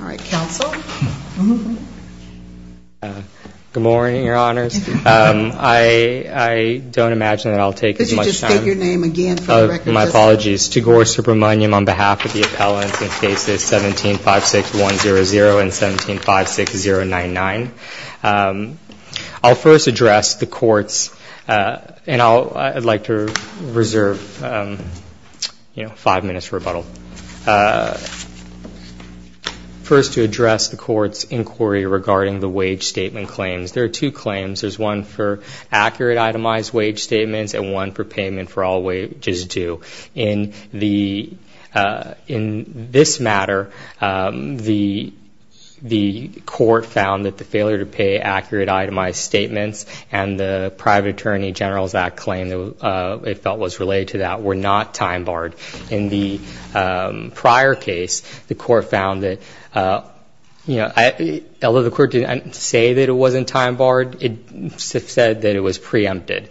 All right, counsel. Good morning, your honors. I don't imagine that I'll take as much time. Could you just state your name again for the record. My apologies, Tegor Supermonium on behalf of the appellants in cases 17-56100 and 17-56099. I'll first address the court's, and I'd like to reserve five minutes for rebuttal. First to address the court's inquiry regarding the wage statement claims. There are two claims. There's one for accurate itemized wage statements and one for payment for all wages due. In this matter, the court found that the failure to pay accurate itemized statements and the Private Attorney General's Act claim it felt was related to that were not time barred. In the prior case, the court found that, you know, although the court didn't say that it wasn't time barred, it said that it was preempted.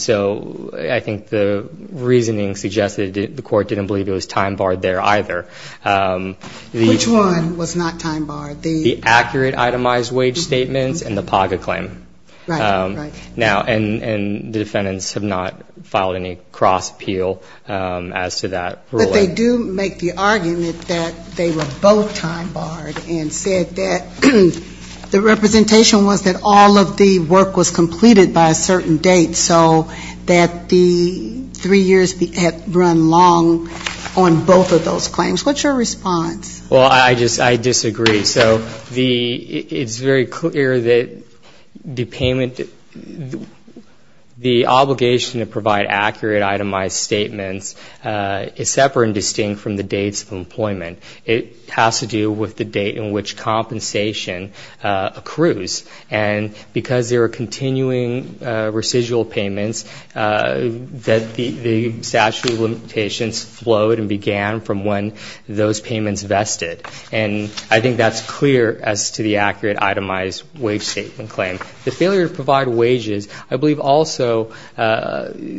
So I think the reasoning suggests that the court didn't believe it was time barred there either. Which one was not time barred? The accurate itemized wage statements and the PAGA claim. Right, right. Now, and the defendants have not filed any cross appeal as to that ruling. But they do make the argument that they were both time barred and said that the representation was that all of the work was completed by a certain date, so that the three years had run long on both of those claims. What's your response? Well, I just, I disagree. So the, it's very clear that the payment, the obligation to provide accurate itemized statements is separate and distinct from the dates of employment. It has to do with the date in which compensation accrues. And because there are continuing residual payments that the statute of limitations flowed and began from when those payments vested. And I think that's clear as to the accurate itemized wage statement claim. The failure to provide wages I believe also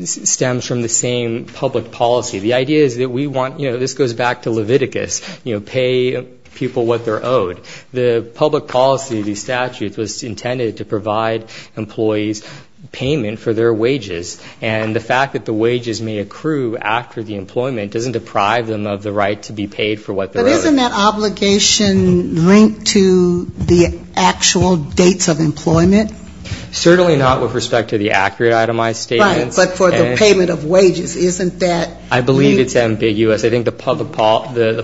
stems from the same public policy. The idea is that we want, you know, this goes back to Leviticus, you know, pay people what they're owed. The public policy of these statutes was intended to provide employees payment for their wages. And the fact that the wages may accrue after the employment doesn't deprive them of the right to be paid for what they're owed. But isn't that obligation linked to the actual dates of employment? Certainly not with respect to the accurate itemized statements. Right, but for the payment of wages, isn't that? I believe it's ambiguous. I think the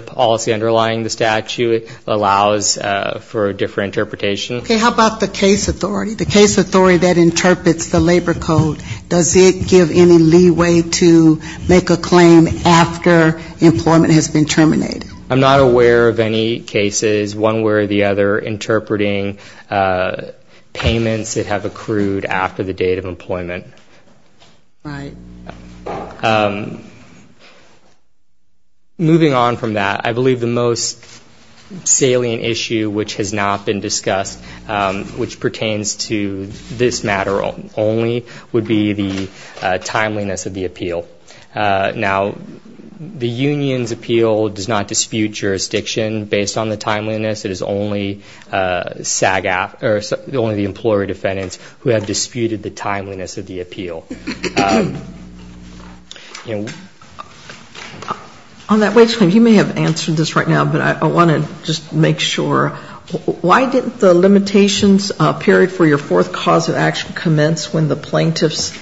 policy underlying the statute allows for a different interpretation. Okay, how about the case authority? The case authority that interprets the labor code, does it give any leeway to make a claim after employment has been terminated? I'm not aware of any cases, one way or the other, interpreting payments that have accrued after the date of employment. Right. Moving on from that, I believe the most salient issue which has not been discussed, which pertains to this matter only, would be the timeliness of the appeal. Now, the union's appeal does not dispute jurisdiction based on the timeliness. It is only the employer defendants who have disputed the timeliness of the appeal. On that wage claim, you may have answered this right now, but I want to just make sure. Why didn't the limitations period for your fourth cause of action commence when the plaintiffs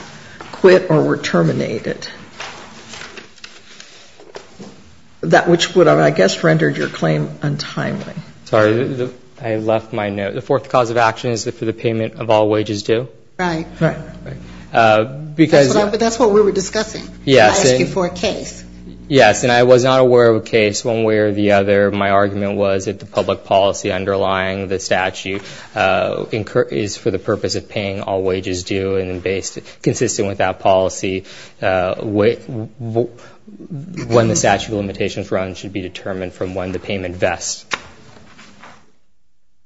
quit or were terminated? That which would have, I guess, rendered your claim untimely. Sorry, I left my note. The fourth cause of action is for the payment of all wages due? Right. But that's what we were discussing. Yes. I asked you for a case. Yes, and I was not aware of a case, one way or the other, my argument was that the public policy underlying the statute is for the purpose of paying all wages due and consistent with that policy. When the statute of limitations runs should be determined from when the payment vests.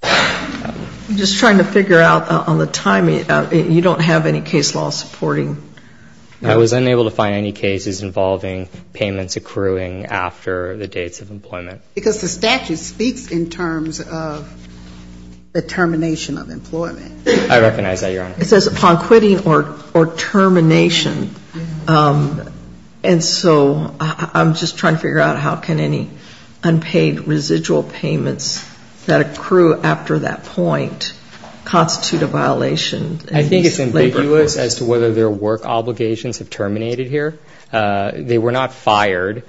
I'm just trying to figure out on the timing. You don't have any case law supporting? I was unable to find any cases involving payments accruing after the dates of employment. Because the statute speaks in terms of the termination of employment. I recognize that, Your Honor. It says upon quitting or termination. And so I'm just trying to figure out how can any unpaid residual payments that accrue after that point constitute a violation. I think it's ambiguous as to whether their work obligations have terminated here. They were not fired.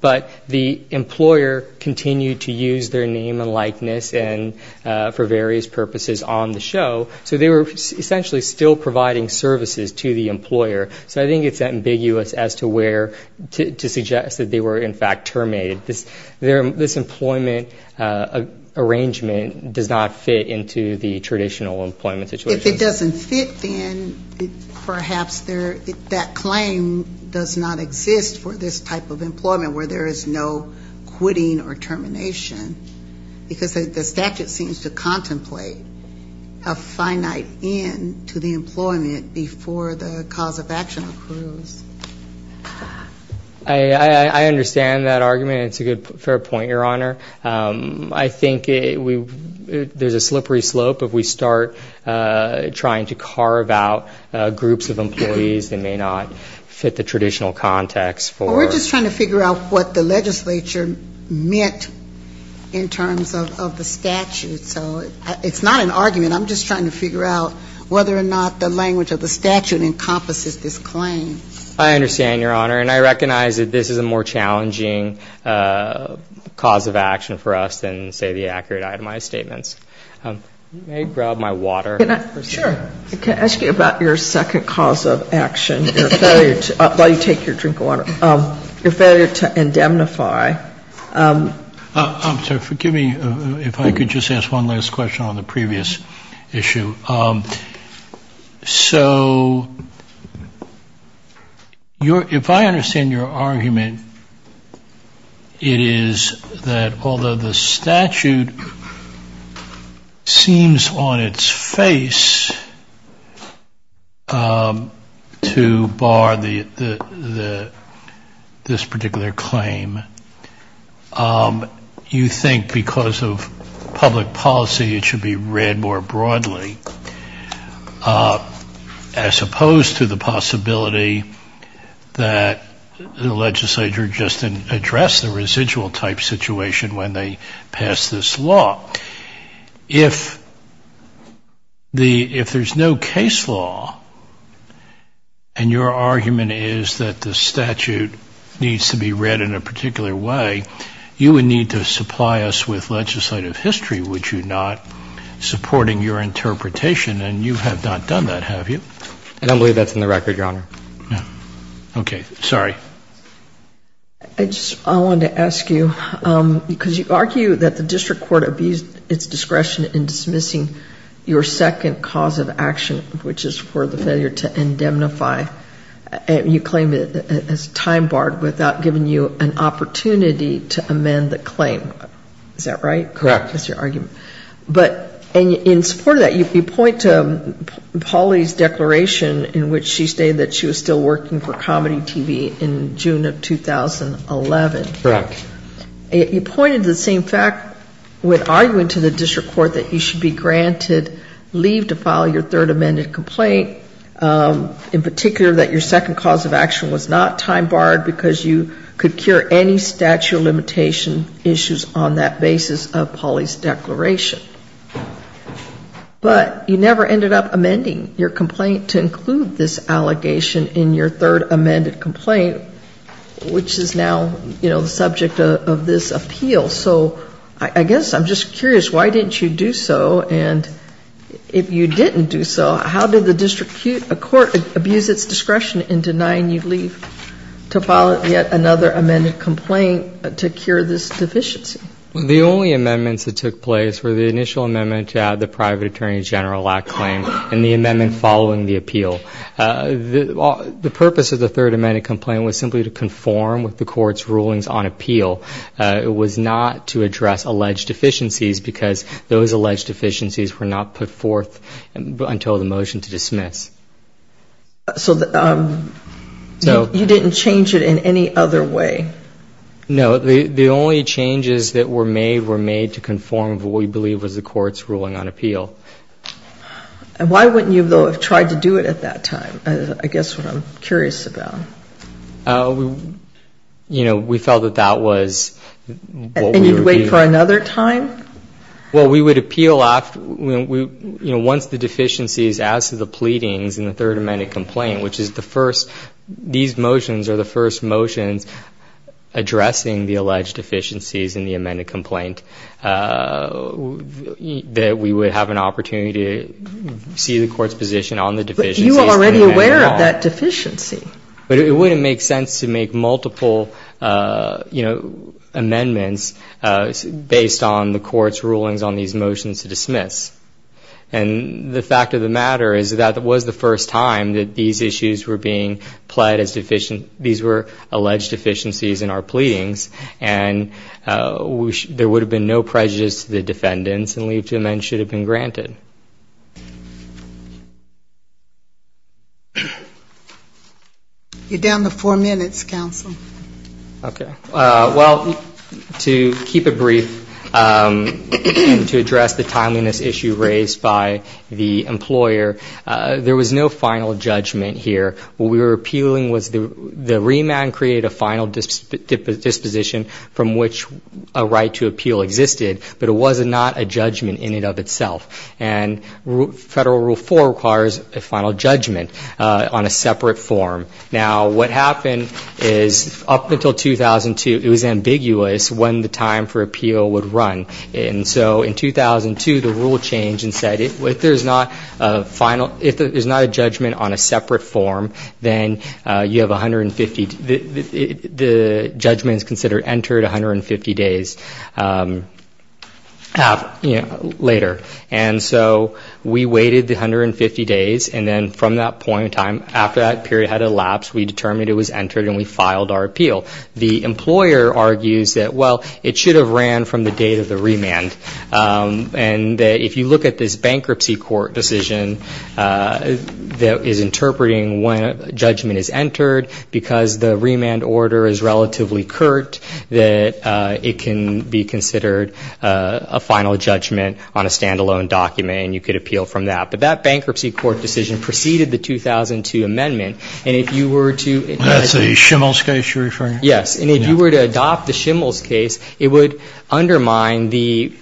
But the employer continued to use their name and likeness and for various purposes on the show. So they were essentially still providing services to the employer. So I think it's ambiguous as to where to suggest that they were, in fact, terminated. This employment arrangement does not fit into the traditional employment situation. If it doesn't fit, then perhaps that claim does not exist for this type of employment where there is no quitting or termination. Because the statute seems to contemplate a finite end to the employment before the cause of action accrues. I understand that argument. It's a good, fair point, Your Honor. I think there's a slippery slope if we start trying to carve out groups of employees that may not fit the traditional context. Well, we're just trying to figure out what the legislature meant in terms of the statute. So it's not an argument. I'm just trying to figure out whether or not the language of the statute encompasses this claim. I understand, Your Honor, and I recognize that this is a more challenging cause of action for us than, say, the accurate itemized statements. May I grab my water? Sure. Can I ask you about your second cause of action, your failure to endemnify? Forgive me if I could just ask one last question on the previous issue. So if I understand your argument, it is that although the statute seems on its face to bar this particular claim, you think because of public policy it should be read more broadly, as opposed to the possibility that the legislature just addressed the residual type situation when they passed this law. If there's no case law and your argument is that the statute needs to be read in a particular way, you would need to supply us with legislative history, would you not, supporting your interpretation? And you have not done that, have you? I don't believe that's in the record, Your Honor. Okay. Sorry. I just wanted to ask you, because you argue that the district court abused its discretion in dismissing your second cause of action, which is for the failure to indemnify, and you claim it as time barred without giving you an opportunity to amend the claim. Is that right? Correct. That's your argument. And in support of that, you point to Pauli's declaration in which she stated that she was still working for comedy TV in June of 2011. Correct. You pointed to the same fact when arguing to the district court that you should be granted leave to file your third amended complaint, in particular that your second cause of action was not time barred because you could cure any statute of limitation issues on that basis of Pauli's declaration. But you never ended up amending your complaint to include this allegation in your third amended complaint, which is now, you know, the subject of this appeal. So I guess I'm just curious, why didn't you do so? And if you didn't do so, how did the district court abuse its discretion in denying you leave to file yet another amended complaint to cure this deficiency? The only amendments that took place were the initial amendment to add the private attorney general lack claim and the amendment following the appeal. The purpose of the third amended complaint was simply to conform with the court's rulings on appeal. It was not to address alleged deficiencies because those alleged deficiencies were not put forth until the motion to dismiss. So you didn't change it in any other way? No, the only changes that were made were made to conform with what we believe was the court's ruling on appeal. And why wouldn't you, though, have tried to do it at that time? I guess what I'm curious about. You know, we felt that that was... And you'd wait for another time? Well, we would appeal once the deficiencies as to the pleadings in the third amended complaint, which is the first, these motions are the first motions addressing the alleged deficiencies in the amended complaint that we would have an opportunity to see the court's position on the deficiencies. But you were already aware of that deficiency. But it wouldn't make sense to make multiple, you know, amendments based on the court's rulings on these motions to dismiss. And the fact of the matter is that it was the first time that these issues were being pled as deficient. These were alleged deficiencies in our pleadings. And there would have been no prejudice to the defendants, and leave to amend should have been granted. You're down to four minutes, counsel. Okay. Well, to keep it brief, to address the timeliness issue raised by the employer, there was no final judgment here. The remand created a final disposition from which a right to appeal existed, but it was not a judgment in and of itself. And Federal Rule 4 requires a final judgment on a separate form. Now, what happened is up until 2002, it was ambiguous when the time for appeal would run. And so in 2002, the rule changed and said if there's not a final, if there's not a judgment on a separate form, then you have 150, the judgment is considered entered 150 days later. And so we waited the 150 days, and then from that point in time, after that period had elapsed, we determined it was entered, and we filed our appeal. The employer argues that, well, it should have ran from the date of the remand. And if you look at this bankruptcy court decision that is interpreting when a judgment is entered, because it's not a final judgment, because the remand order is relatively curt, that it can be considered a final judgment on a standalone document, and you could appeal from that. But that bankruptcy court decision preceded the 2002 amendment. And if you were to adopt the Schimel's case, it would undermine the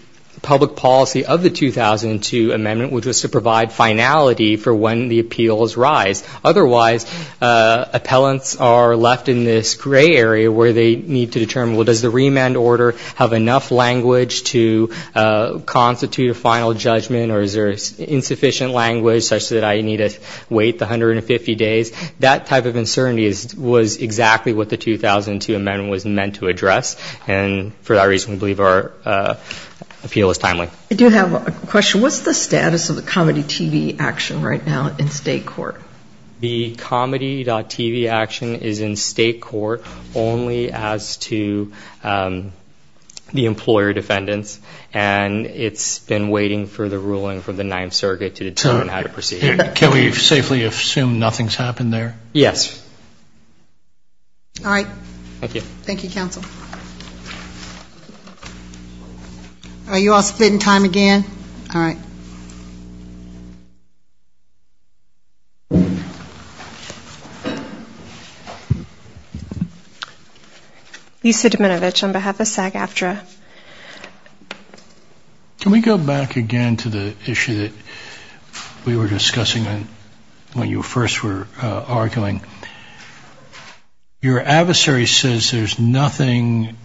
public policy of the 2002 amendment, which was to provide finality for when the appeals rise. Otherwise, appellants are left in this gray area where they need to determine, well, does the remand order have enough language to constitute a final judgment, or is there insufficient language such that I need to wait the 150 days? That type of uncertainty was exactly what the 2002 amendment was meant to address. And for that reason, we believe our appeal is timely. I do have a question. What's the status of the comedy.tv action right now in state court? The comedy.tv action is in state court only as to the employer defendants, and it's been waiting for the ruling from the ninth surrogate to determine how to proceed. Can we safely assume nothing's happened there? Yes. All right. Thank you, counsel. Are you all split in time again? All right. Lisa Deminovich on behalf of SAG-AFTRA. Can we go back again to the issue that we were discussing when you first were arguing? Your adversary says there's nothing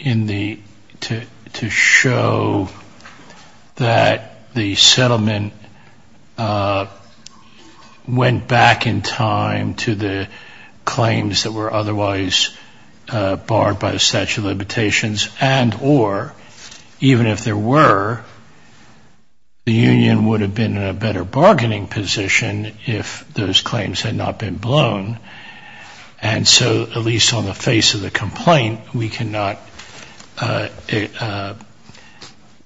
to show that the settlement went back in time to the claims that were otherwise barred by the statute of limitations, and or even if there were, the union would have been in a better bargaining position if those claims had not been blown. And so at least on the face of the complaint, we cannot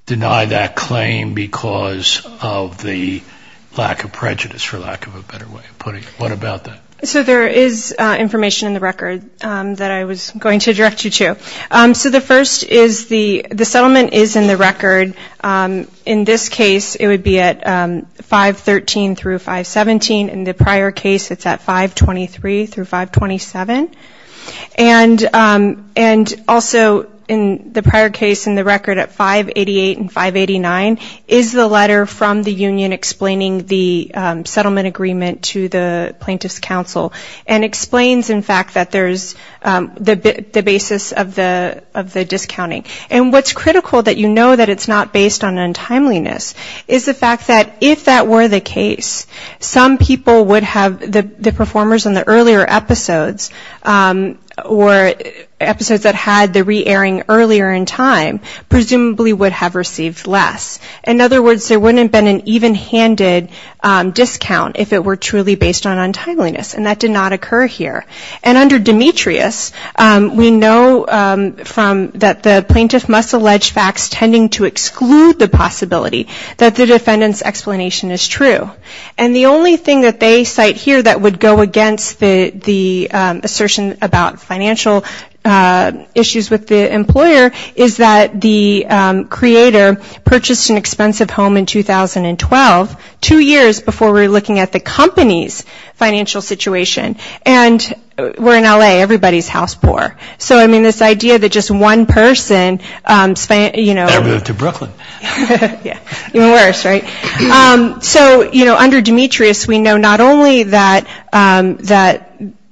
deny that claim because of the lack of prejudice, for lack of a better way of putting it. What about that? So there is information in the record that I was going to direct you to. So the first is the settlement is in the record. In this case, it would be at 513 through 517. In the prior case, it's at 523 through 527. And also in the prior case in the record at 588 and 589 is the letter from the union explaining the settlement agreement to the plaintiff's counsel. And explains, in fact, that there's the basis of the discounting. And what's critical that you know that it's not based on untimeliness is the fact that if that were the case, some people would have the performers in the earlier episodes or episodes that had the re-airing earlier in time presumably would have received less. In other words, there wouldn't have been an even-handed discount if it were truly based on untimeliness. And that did not occur here. And under Demetrius, we know that the plaintiff must allege facts tending to exclude the possibility that the defendant's explanation is true. And the only thing that they cite here that would go against the assertion about financial issues with the employer is that the creator purchased an expensive home in 2012, two years before we're looking at the company's financial situation. And we're in L.A., everybody's house poor. So, I mean, this idea that just one person, you know... So, you know, under Demetrius, we know not only that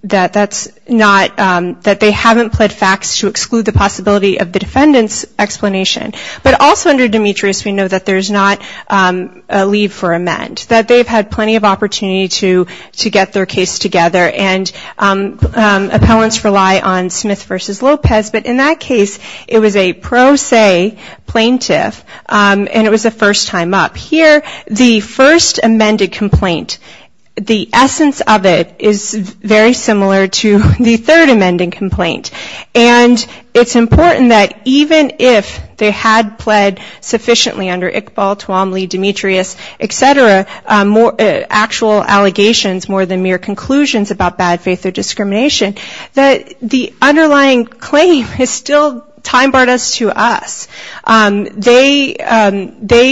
that's not, that they haven't pled facts to exclude the possibility of the defendant's explanation, but also under Demetrius we know that there's not a leave for amend, that they've had plenty of opportunity to get their case together and appellants rely on Smith v. Lopez, but in that case it was a pro se plaintiff and it was a first time up. Here, the first amended complaint, the essence of it is very similar to the third amending complaint. And it's important that even if they had pled sufficiently under Iqbal, Tuomly, Demetrius, et cetera, actual allegations more than mere conclusions about bad faith or discrimination, that the underlying claim is still time barred us to us. They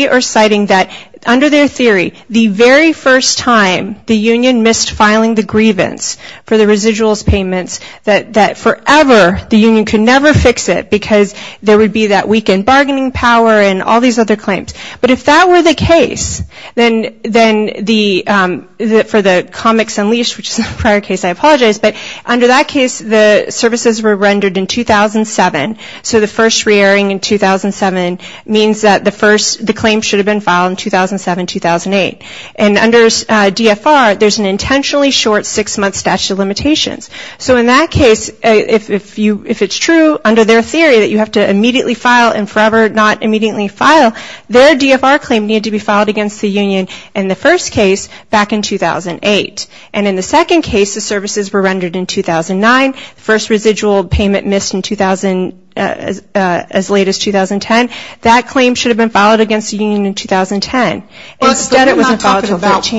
are citing that under their theory, the very first time the union missed filing the grievance for the residuals payments, that forever the union could never fix it because there would be that weakened bargaining power and all these other claims. But if that were the case, then the, for the comics unleashed, which is a prior case, I apologize, but under that case the services were rendered in 2007, so the first reerring in 2007 means that the first, the claim should have been filed in 2007-2008. And under DFR, there's an intentionally short six month statute of limitations. So in that case, if it's true under their theory that you have to immediately file and forever not immediately file, then their DFR claim needed to be filed against the union in the first case back in 2008. And in the second case, the services were rendered in 2009, the first residual payment missed in 2000, as late as 2010. That claim should have been filed against the union in 2010. Instead it wasn't filed until 13.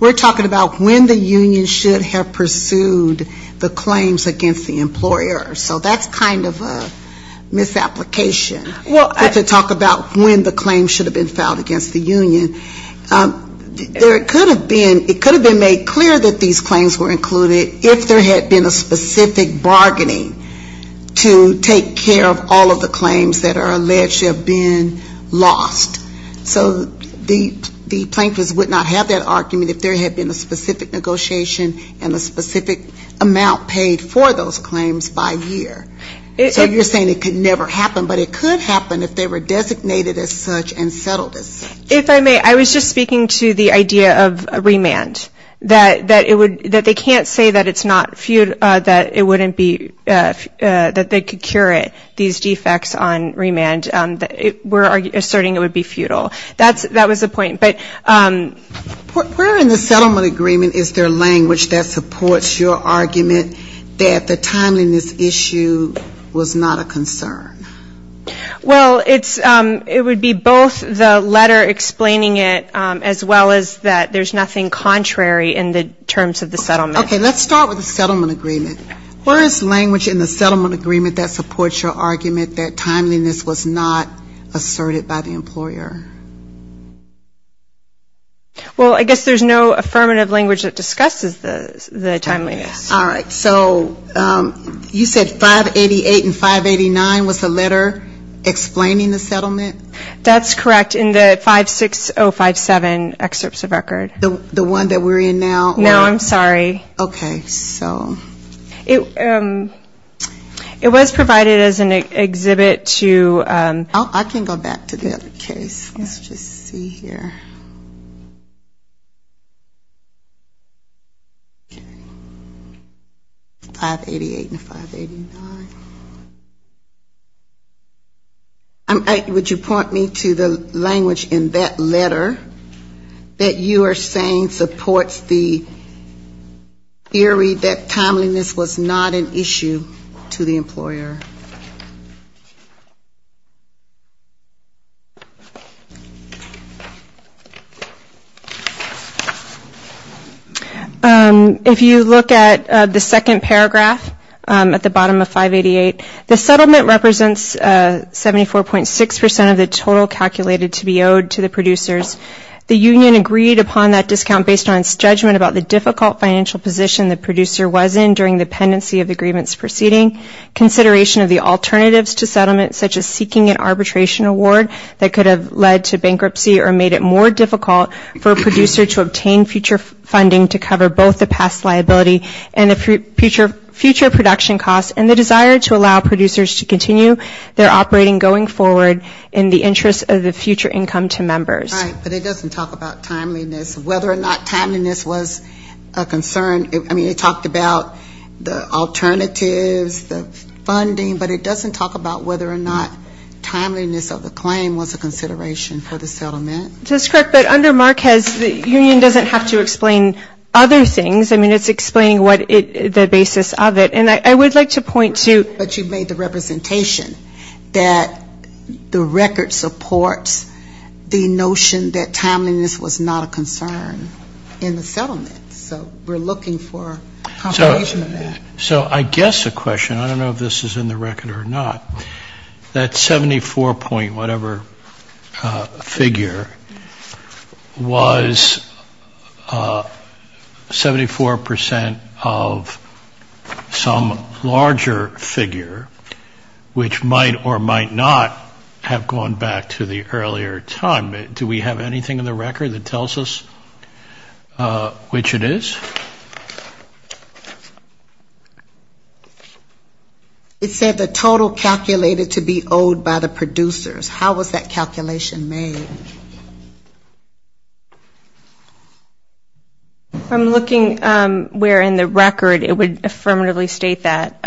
We're talking about when the union should have pursued the claims against the employer. So that's kind of a misapplication. To talk about when the claim should have been filed against the union, there could have been, it could have been made clear that these claims were included if there had been a specific bargaining to take care of all of the claims that are alleged to have been lost. So the plaintiffs would not have that argument if there had been a specific negotiation and a specific amount paid for those claims and if they were designated as such and settled it. If I may, I was just speaking to the idea of remand, that it would, that they can't say that it's not, that it wouldn't be, that they could cure it, these defects on remand. We're asserting it would be futile. That was the point. Where in the settlement agreement is there language that supports your argument that the timeliness issue was not a concern? Well, it's, it would be both the letter explaining it as well as that there's nothing contrary in the terms of the settlement. Okay. Let's start with the settlement agreement. Where is language in the settlement agreement that supports your argument that timeliness was not asserted by the employer? Well, I guess there's no affirmative language that discusses the timeliness. All right. So you said 588 and 589 was the letter explaining the settlement? That's correct. In the 56057 excerpts of record. The one that we're in now? No, I'm sorry. Okay. So. It was provided as an exhibit to. I can go back to the other case. Let's just see here. 588 and 589. Would you point me to the language in that letter that you are saying supports the theory that timeliness was not a concern? That it was not an issue to the employer? If you look at the second paragraph at the bottom of 588, the settlement represents 74.6% of the total calculated to be owed to the producers. The union agreed upon that discount based on its judgment about the difficult financial position the producer was in during the period of the agreement's proceeding, consideration of the alternatives to settlement such as seeking an arbitration award that could have led to bankruptcy or made it more difficult for a producer to obtain future funding to cover both the past liability and the future production costs and the desire to allow producers to continue their operating going forward in the interest of the future income to members. Right. But it doesn't talk about timeliness, whether or not timeliness was a concern. I mean, it talked about the alternatives, the funding, but it doesn't talk about whether or not timeliness of the claim was a consideration for the settlement. That's correct. But under Marquez, the union doesn't have to explain other things. I mean, it's explaining what the basis of it. And I would like to point to. But you made the representation that the record supports the notion that timeliness was not a concern in the settlement. So we're looking for confirmation of that. So I guess a question, I don't know if this is in the record or not, that 74 point whatever figure was 74% of some larger figure which might or might not have gone back to the earlier time. Do we have anything in the record that tells us which it is? It said the total calculated to be owed by the producers. How was that calculation made? I'm looking where in the record it would affirmatively state that.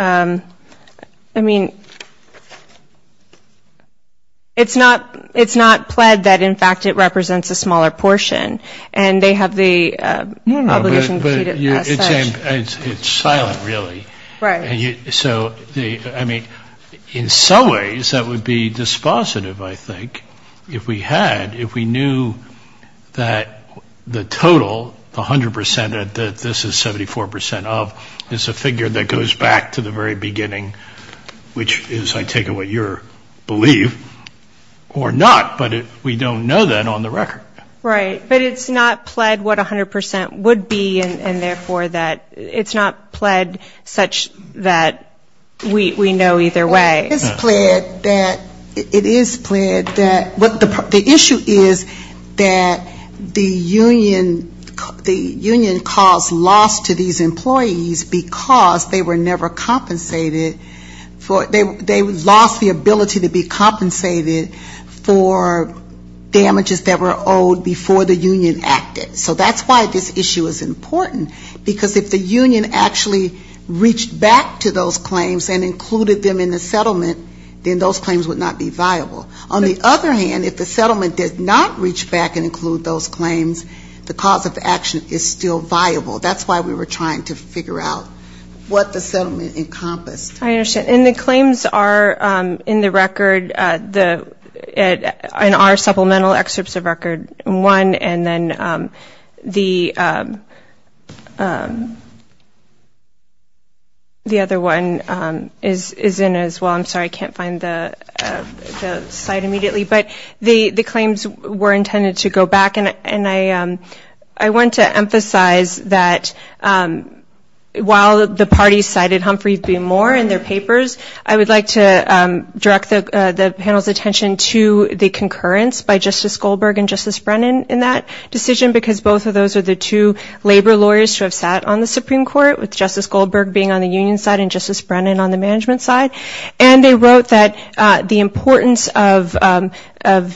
I mean, it's not pled that, in fact, it represents a smaller portion. And they have the obligation to keep it as such. It's silent, really. Right. So, I mean, in some ways that would be dispositive, I think, if we had, if we knew that the total, the 100% that this is 74% of, is a figure that goes back to the very beginning, which is, I take it, what you believe, or not. But we don't know that on the record. Right. But it's not pled what 100% would be, and therefore that it's not pled such that it would be a larger figure. But we know either way. It is pled that, the issue is that the union caused loss to these employees because they were never compensated for, they lost the ability to be compensated for damages that were owed before the union acted. So that's why this issue is important. Because if the union went back to those claims and included them in the settlement, then those claims would not be viable. On the other hand, if the settlement did not reach back and include those claims, the cause of action is still viable. That's why we were trying to figure out what the settlement encompassed. I understand. And the claims are in the record, in our supplemental excerpts of record one, and then the other one is in the as well. I'm sorry, I can't find the site immediately. But the claims were intended to go back. And I want to emphasize that while the party cited Humphrey v. Moore in their papers, I would like to direct the panel's attention to the concurrence by Justice Goldberg and Justice Brennan in that decision, because both of those are the two labor lawyers who have sat on the Supreme Court, with Justice Brennan on the management side. And they wrote that the importance of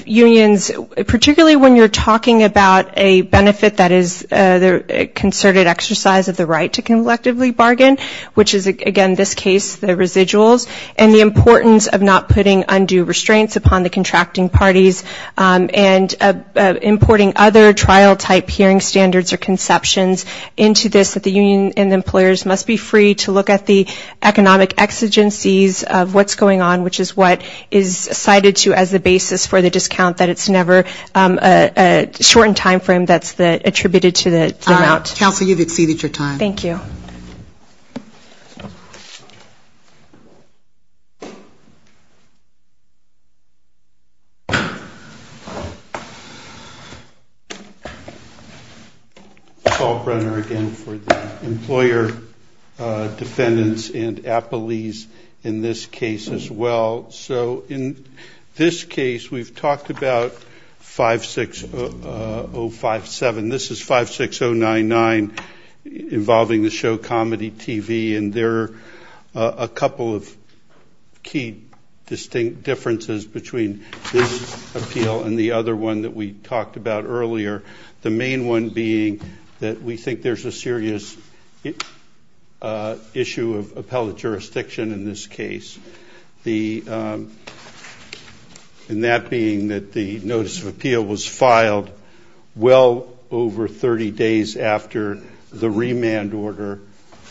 unions, particularly when you're talking about a benefit that is a concerted exercise of the right to collectively bargain, which is again this case, the residuals, and the importance of not putting undue restraints upon the contracting parties and importing other trial-type hearing standards or conceptions into this, that the union and the employers must be free to look at the economic exigencies of what's going on, which is what is cited to as the basis for the discount, that it's never a shortened time frame that's attributed to the amount. Counsel, you've exceeded your time. Thank you. Paul Brenner again for the employer defendants and appellees in this case as well. So in this case, we've talked about 56057. This is 56099 involving the show Comedy TV, and there are a couple of key distinct differences between this appeal and the other one that we talked about earlier, the main one being that we think there's a serious issue of appellate jurisdiction in this case, and that being that the notice of remand was issued 30 days after the remand order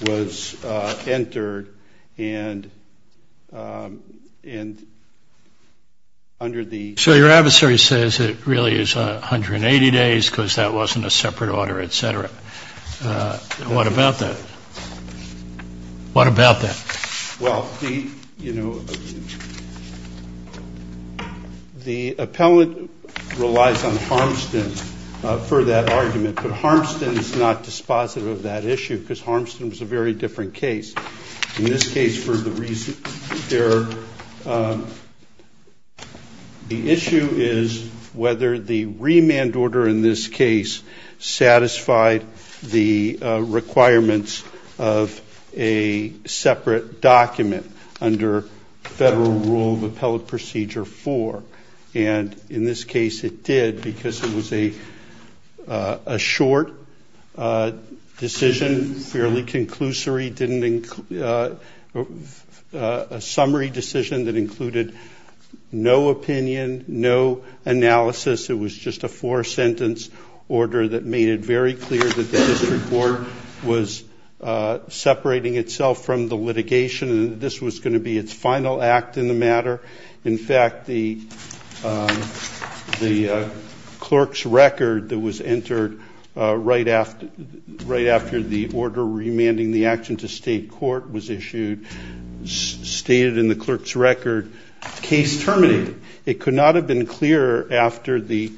was entered, and under the So your adversary says it really is 180 days because that wasn't a separate order, et cetera. What about that? What about that? Well, you know, the appellate relies on Harmston for that argument, but Harmston is not dispositive of that issue because Harmston was a very different case. In this case, for the reason, the issue is whether the remand order in this case satisfied the requirements of a separate document under federal rule of appellate procedure 4, and in this case, it did because it was a short decision, fairly conclusory, a summary decision that included no opinion, no analysis. It was just a four-sentence order that made it very clear that the district court was separating itself from the litigation, and this was going to be its final act in the matter. In fact, the clerk's record that was entered right after the order remanding the action to state court was issued stated in the clerk's record, case terminated. It could not have been clearer after the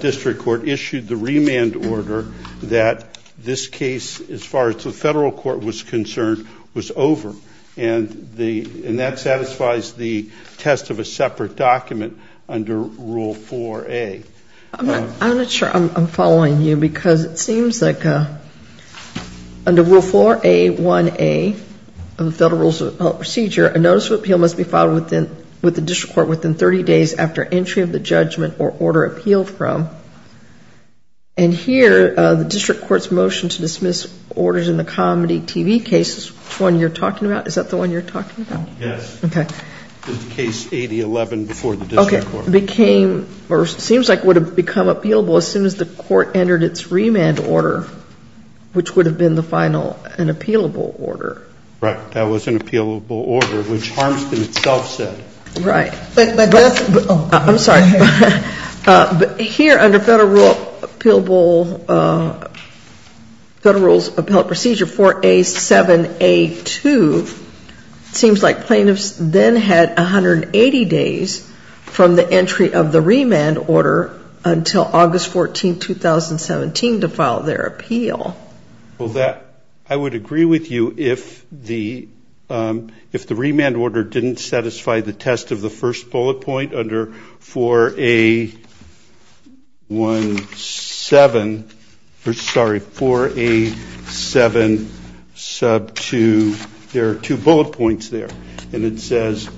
district court issued the remand order that this could not have been the case. This case, as far as the federal court was concerned, was over, and that satisfies the test of a separate document under rule 4A. I'm not sure I'm following you because it seems like under rule 4A1A of the federal rule of appellate procedure, a notice of appeal must be filed with the district court within 30 days after entry of the judgment or order appealed from, and here the district court's motion to dismiss orders in the comedy TV case, which one you're talking about, is that the one you're talking about? Yes. Okay. Case 8011 before the district court. Okay. Became or seems like would have become appealable as soon as the court entered its remand order, which would have been the final, an appealable order. Right. That was an appealable order, which Harmston itself said. Right. I'm sorry. But here under federal rule of appellate procedure 4A7A2, it seems like plaintiffs then had 180 days from the entry of the remand order until August 14, 2017 to file their appeal. Well, that, I would agree with you if the remand order didn't satisfy the test of the first bullet point under 4A17, or sorry, 4A7 sub 2, there are two bullet points there, and it says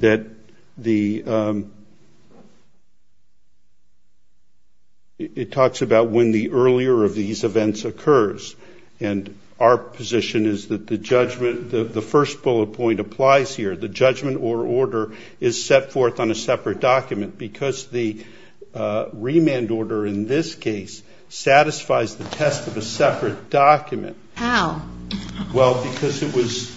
that the, it talks about when the earlier of these events occurred. And our position is that the judgment, the first bullet point applies here. The judgment or order is set forth on a separate document because the remand order in this case satisfies the test of a separate document. How? Well, because it was,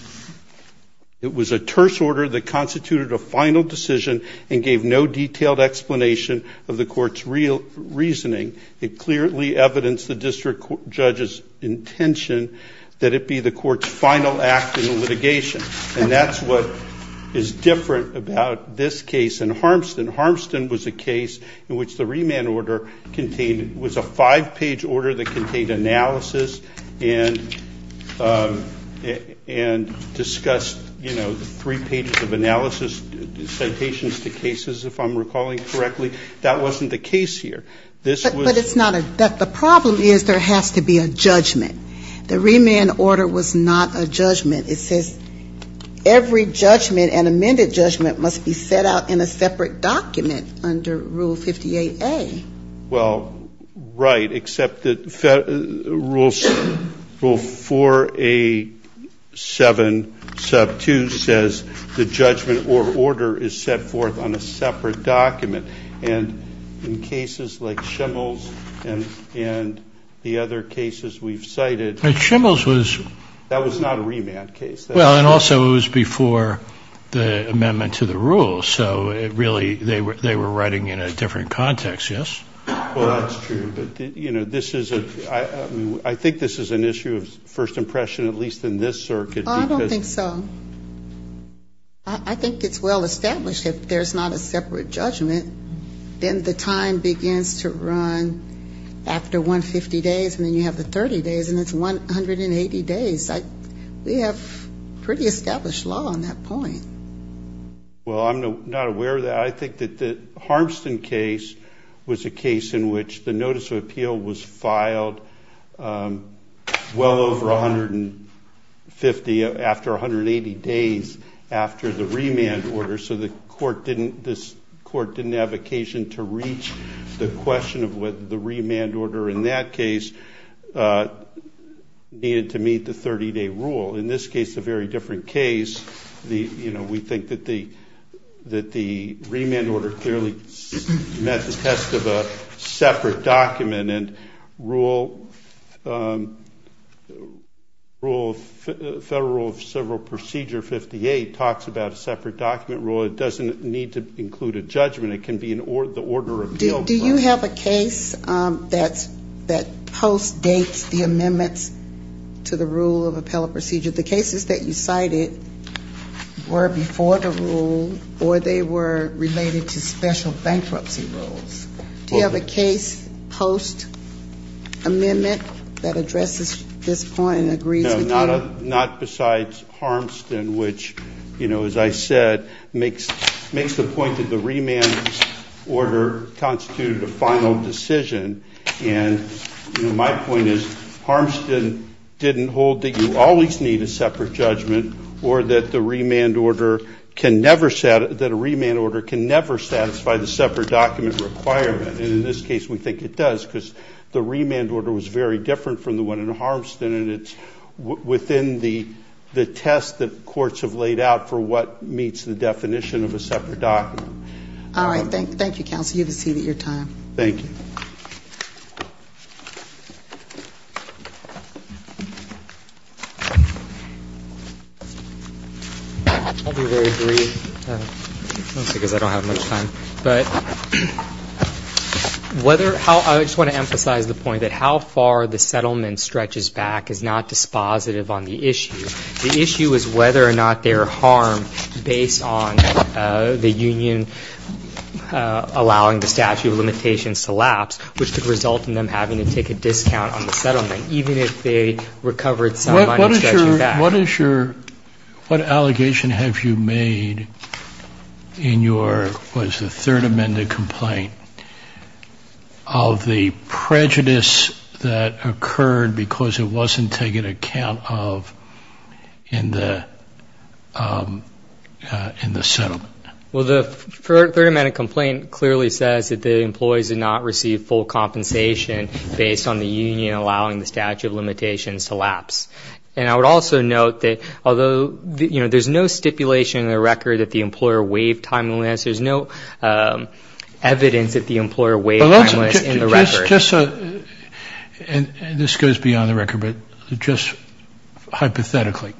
it was a terse order that constituted a final decision and gave no detailed explanation of the court's real reasoning. It clearly evidenced the district judge's intention that it be the court's final act in litigation. And that's what is different about this case and Harmston. Harmston was a case in which the remand order contained, was a five-page order that contained analysis and a review and discussed, you know, three pages of analysis, citations to cases, if I'm recalling correctly. That wasn't the case here. But it's not a, the problem is there has to be a judgment. The remand order was not a judgment. It says every judgment, an amended judgment, must be set out in a separate document under Rule 58A. Well, right, except that Rule 4A-7-2 says the judgment or order is set forth on a separate document. And in cases like Schimel's and the other cases we've cited. Schimel's was. That was not a remand case. Well, and also it was before the amendment to the rule. So it really, they were writing in a different context, yes? Well, that's true. But, you know, this is a, I think this is an issue of first impression, at least in this circuit. I don't think so. I think it's well established if there's not a separate judgment, then the time begins to run out, and then you have the 150 days, and then you have the 30 days, and it's 180 days. We have pretty established law on that point. Well, I'm not aware of that. I think that the Harmston case was a case in which the notice of appeal was filed well over 150, after 180 days after the remand order. So the court didn't, this court didn't have occasion to reach the question of whether the remand order in that case needed to meet the 30-day rule. In this case, a very different case. We think that the remand order clearly met the test of a separate document. And Federal Rule of Civil Procedure 58 talks about a separate document rule. It doesn't need to include a judgment. It can be the order of appeal. Do you have a case that postdates the amendments to the rule of appellate procedure? The cases that you cited were before the rule, or they were related to special bankruptcy rules. Do you have a case post-amendment that addresses this point and agrees with you? No, not besides Harmston, which, you know, as I said, makes the point that the remand order constituted a final decision. And, you know, my point is, Harmston didn't hold that you always need a separate judgment, or that the remand order can never satisfy the separate document requirement. And in this case, we think it does, because the remand order was very different from the one in Harmston, and it's within the test that courts have laid out for what meets the definition of a separate document. All right. Thank you, counsel. You have a seat at your time. I'll be very brief, mostly because I don't have much time. I just want to emphasize the point that how far the settlement stretches back is not dispositive on the issue. The issue is whether or not there are harm based on the union allowing the statute of limitations to lapse, which could result in them having to take a discount on the settlement, even if they recovered some money stretching back. What is your ñ what allegation have you made in your ñ what is the third amended complaint? Of the prejudice that occurred because it wasn't taken account of in the settlement. Well, the third amended complaint clearly says that the employees did not receive full compensation based on the union allowing the statute of limitations to lapse. And I would also note that although, you know, there's no stipulation in the record that the employer waived time limits, there's no evidence that the employer waived time limits in the record. And this goes beyond the record, but just hypothetically,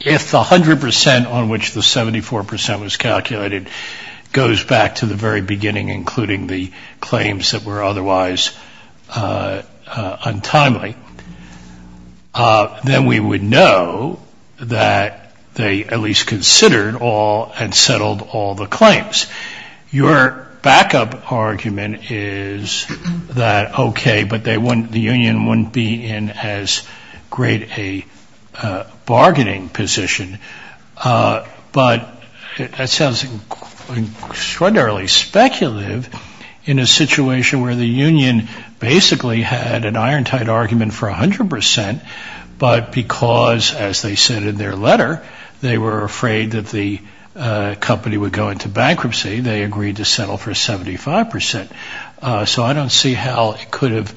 if the 100 percent on which the 74 percent was calculated goes back to the very beginning, including the claims that were otherwise untimely, then we would know that they at least considered all and settled all the claims. Your backup argument is that, okay, but they wouldn't ñ the union wouldn't be in as great a bargaining position. But that sounds extraordinarily speculative in a situation where the union basically had an iron-tight argument for 100 percent, but because, as they said in their letter, they were afraid that the company would go into bankruptcy, they agreed to settle for 75 percent. So I don't see how it could have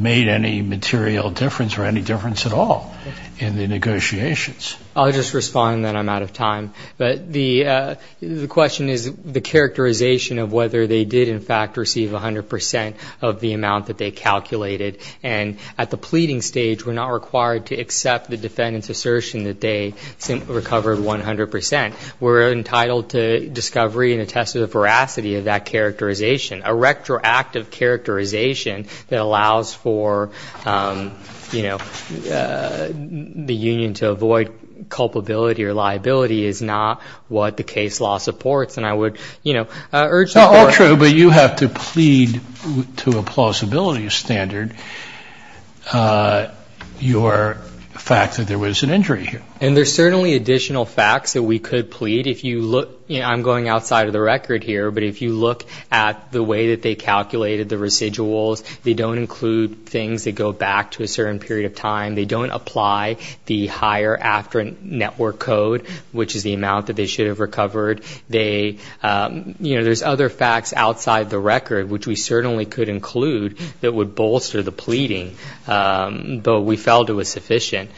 made any material difference or any difference at all in the negotiations. I'll just respond and then I'm out of time. But the question is the characterization of whether they did in fact receive 100 percent of the amount that they calculated. And at the pleading stage, we're not required to accept the defendant's assertion that they recovered 100 percent. We're entitled to discovery and a test of the veracity of that characterization. A retroactive characterization that allows for, you know, the union to avoid culpability or liability is not what the case law supports. And I would, you know, urge the court ñ your fact that there was an injury here. And there's certainly additional facts that we could plead. If you look ñ you know, I'm going outside of the record here, but if you look at the way that they calculated the residuals, they don't include things that go back to a certain period of time. They don't apply the higher after-network code, which is the amount that they should have recovered. They ñ you know, there's other facts outside the record, which we certainly could include that would bolster the pleading. But we felt it was sufficient.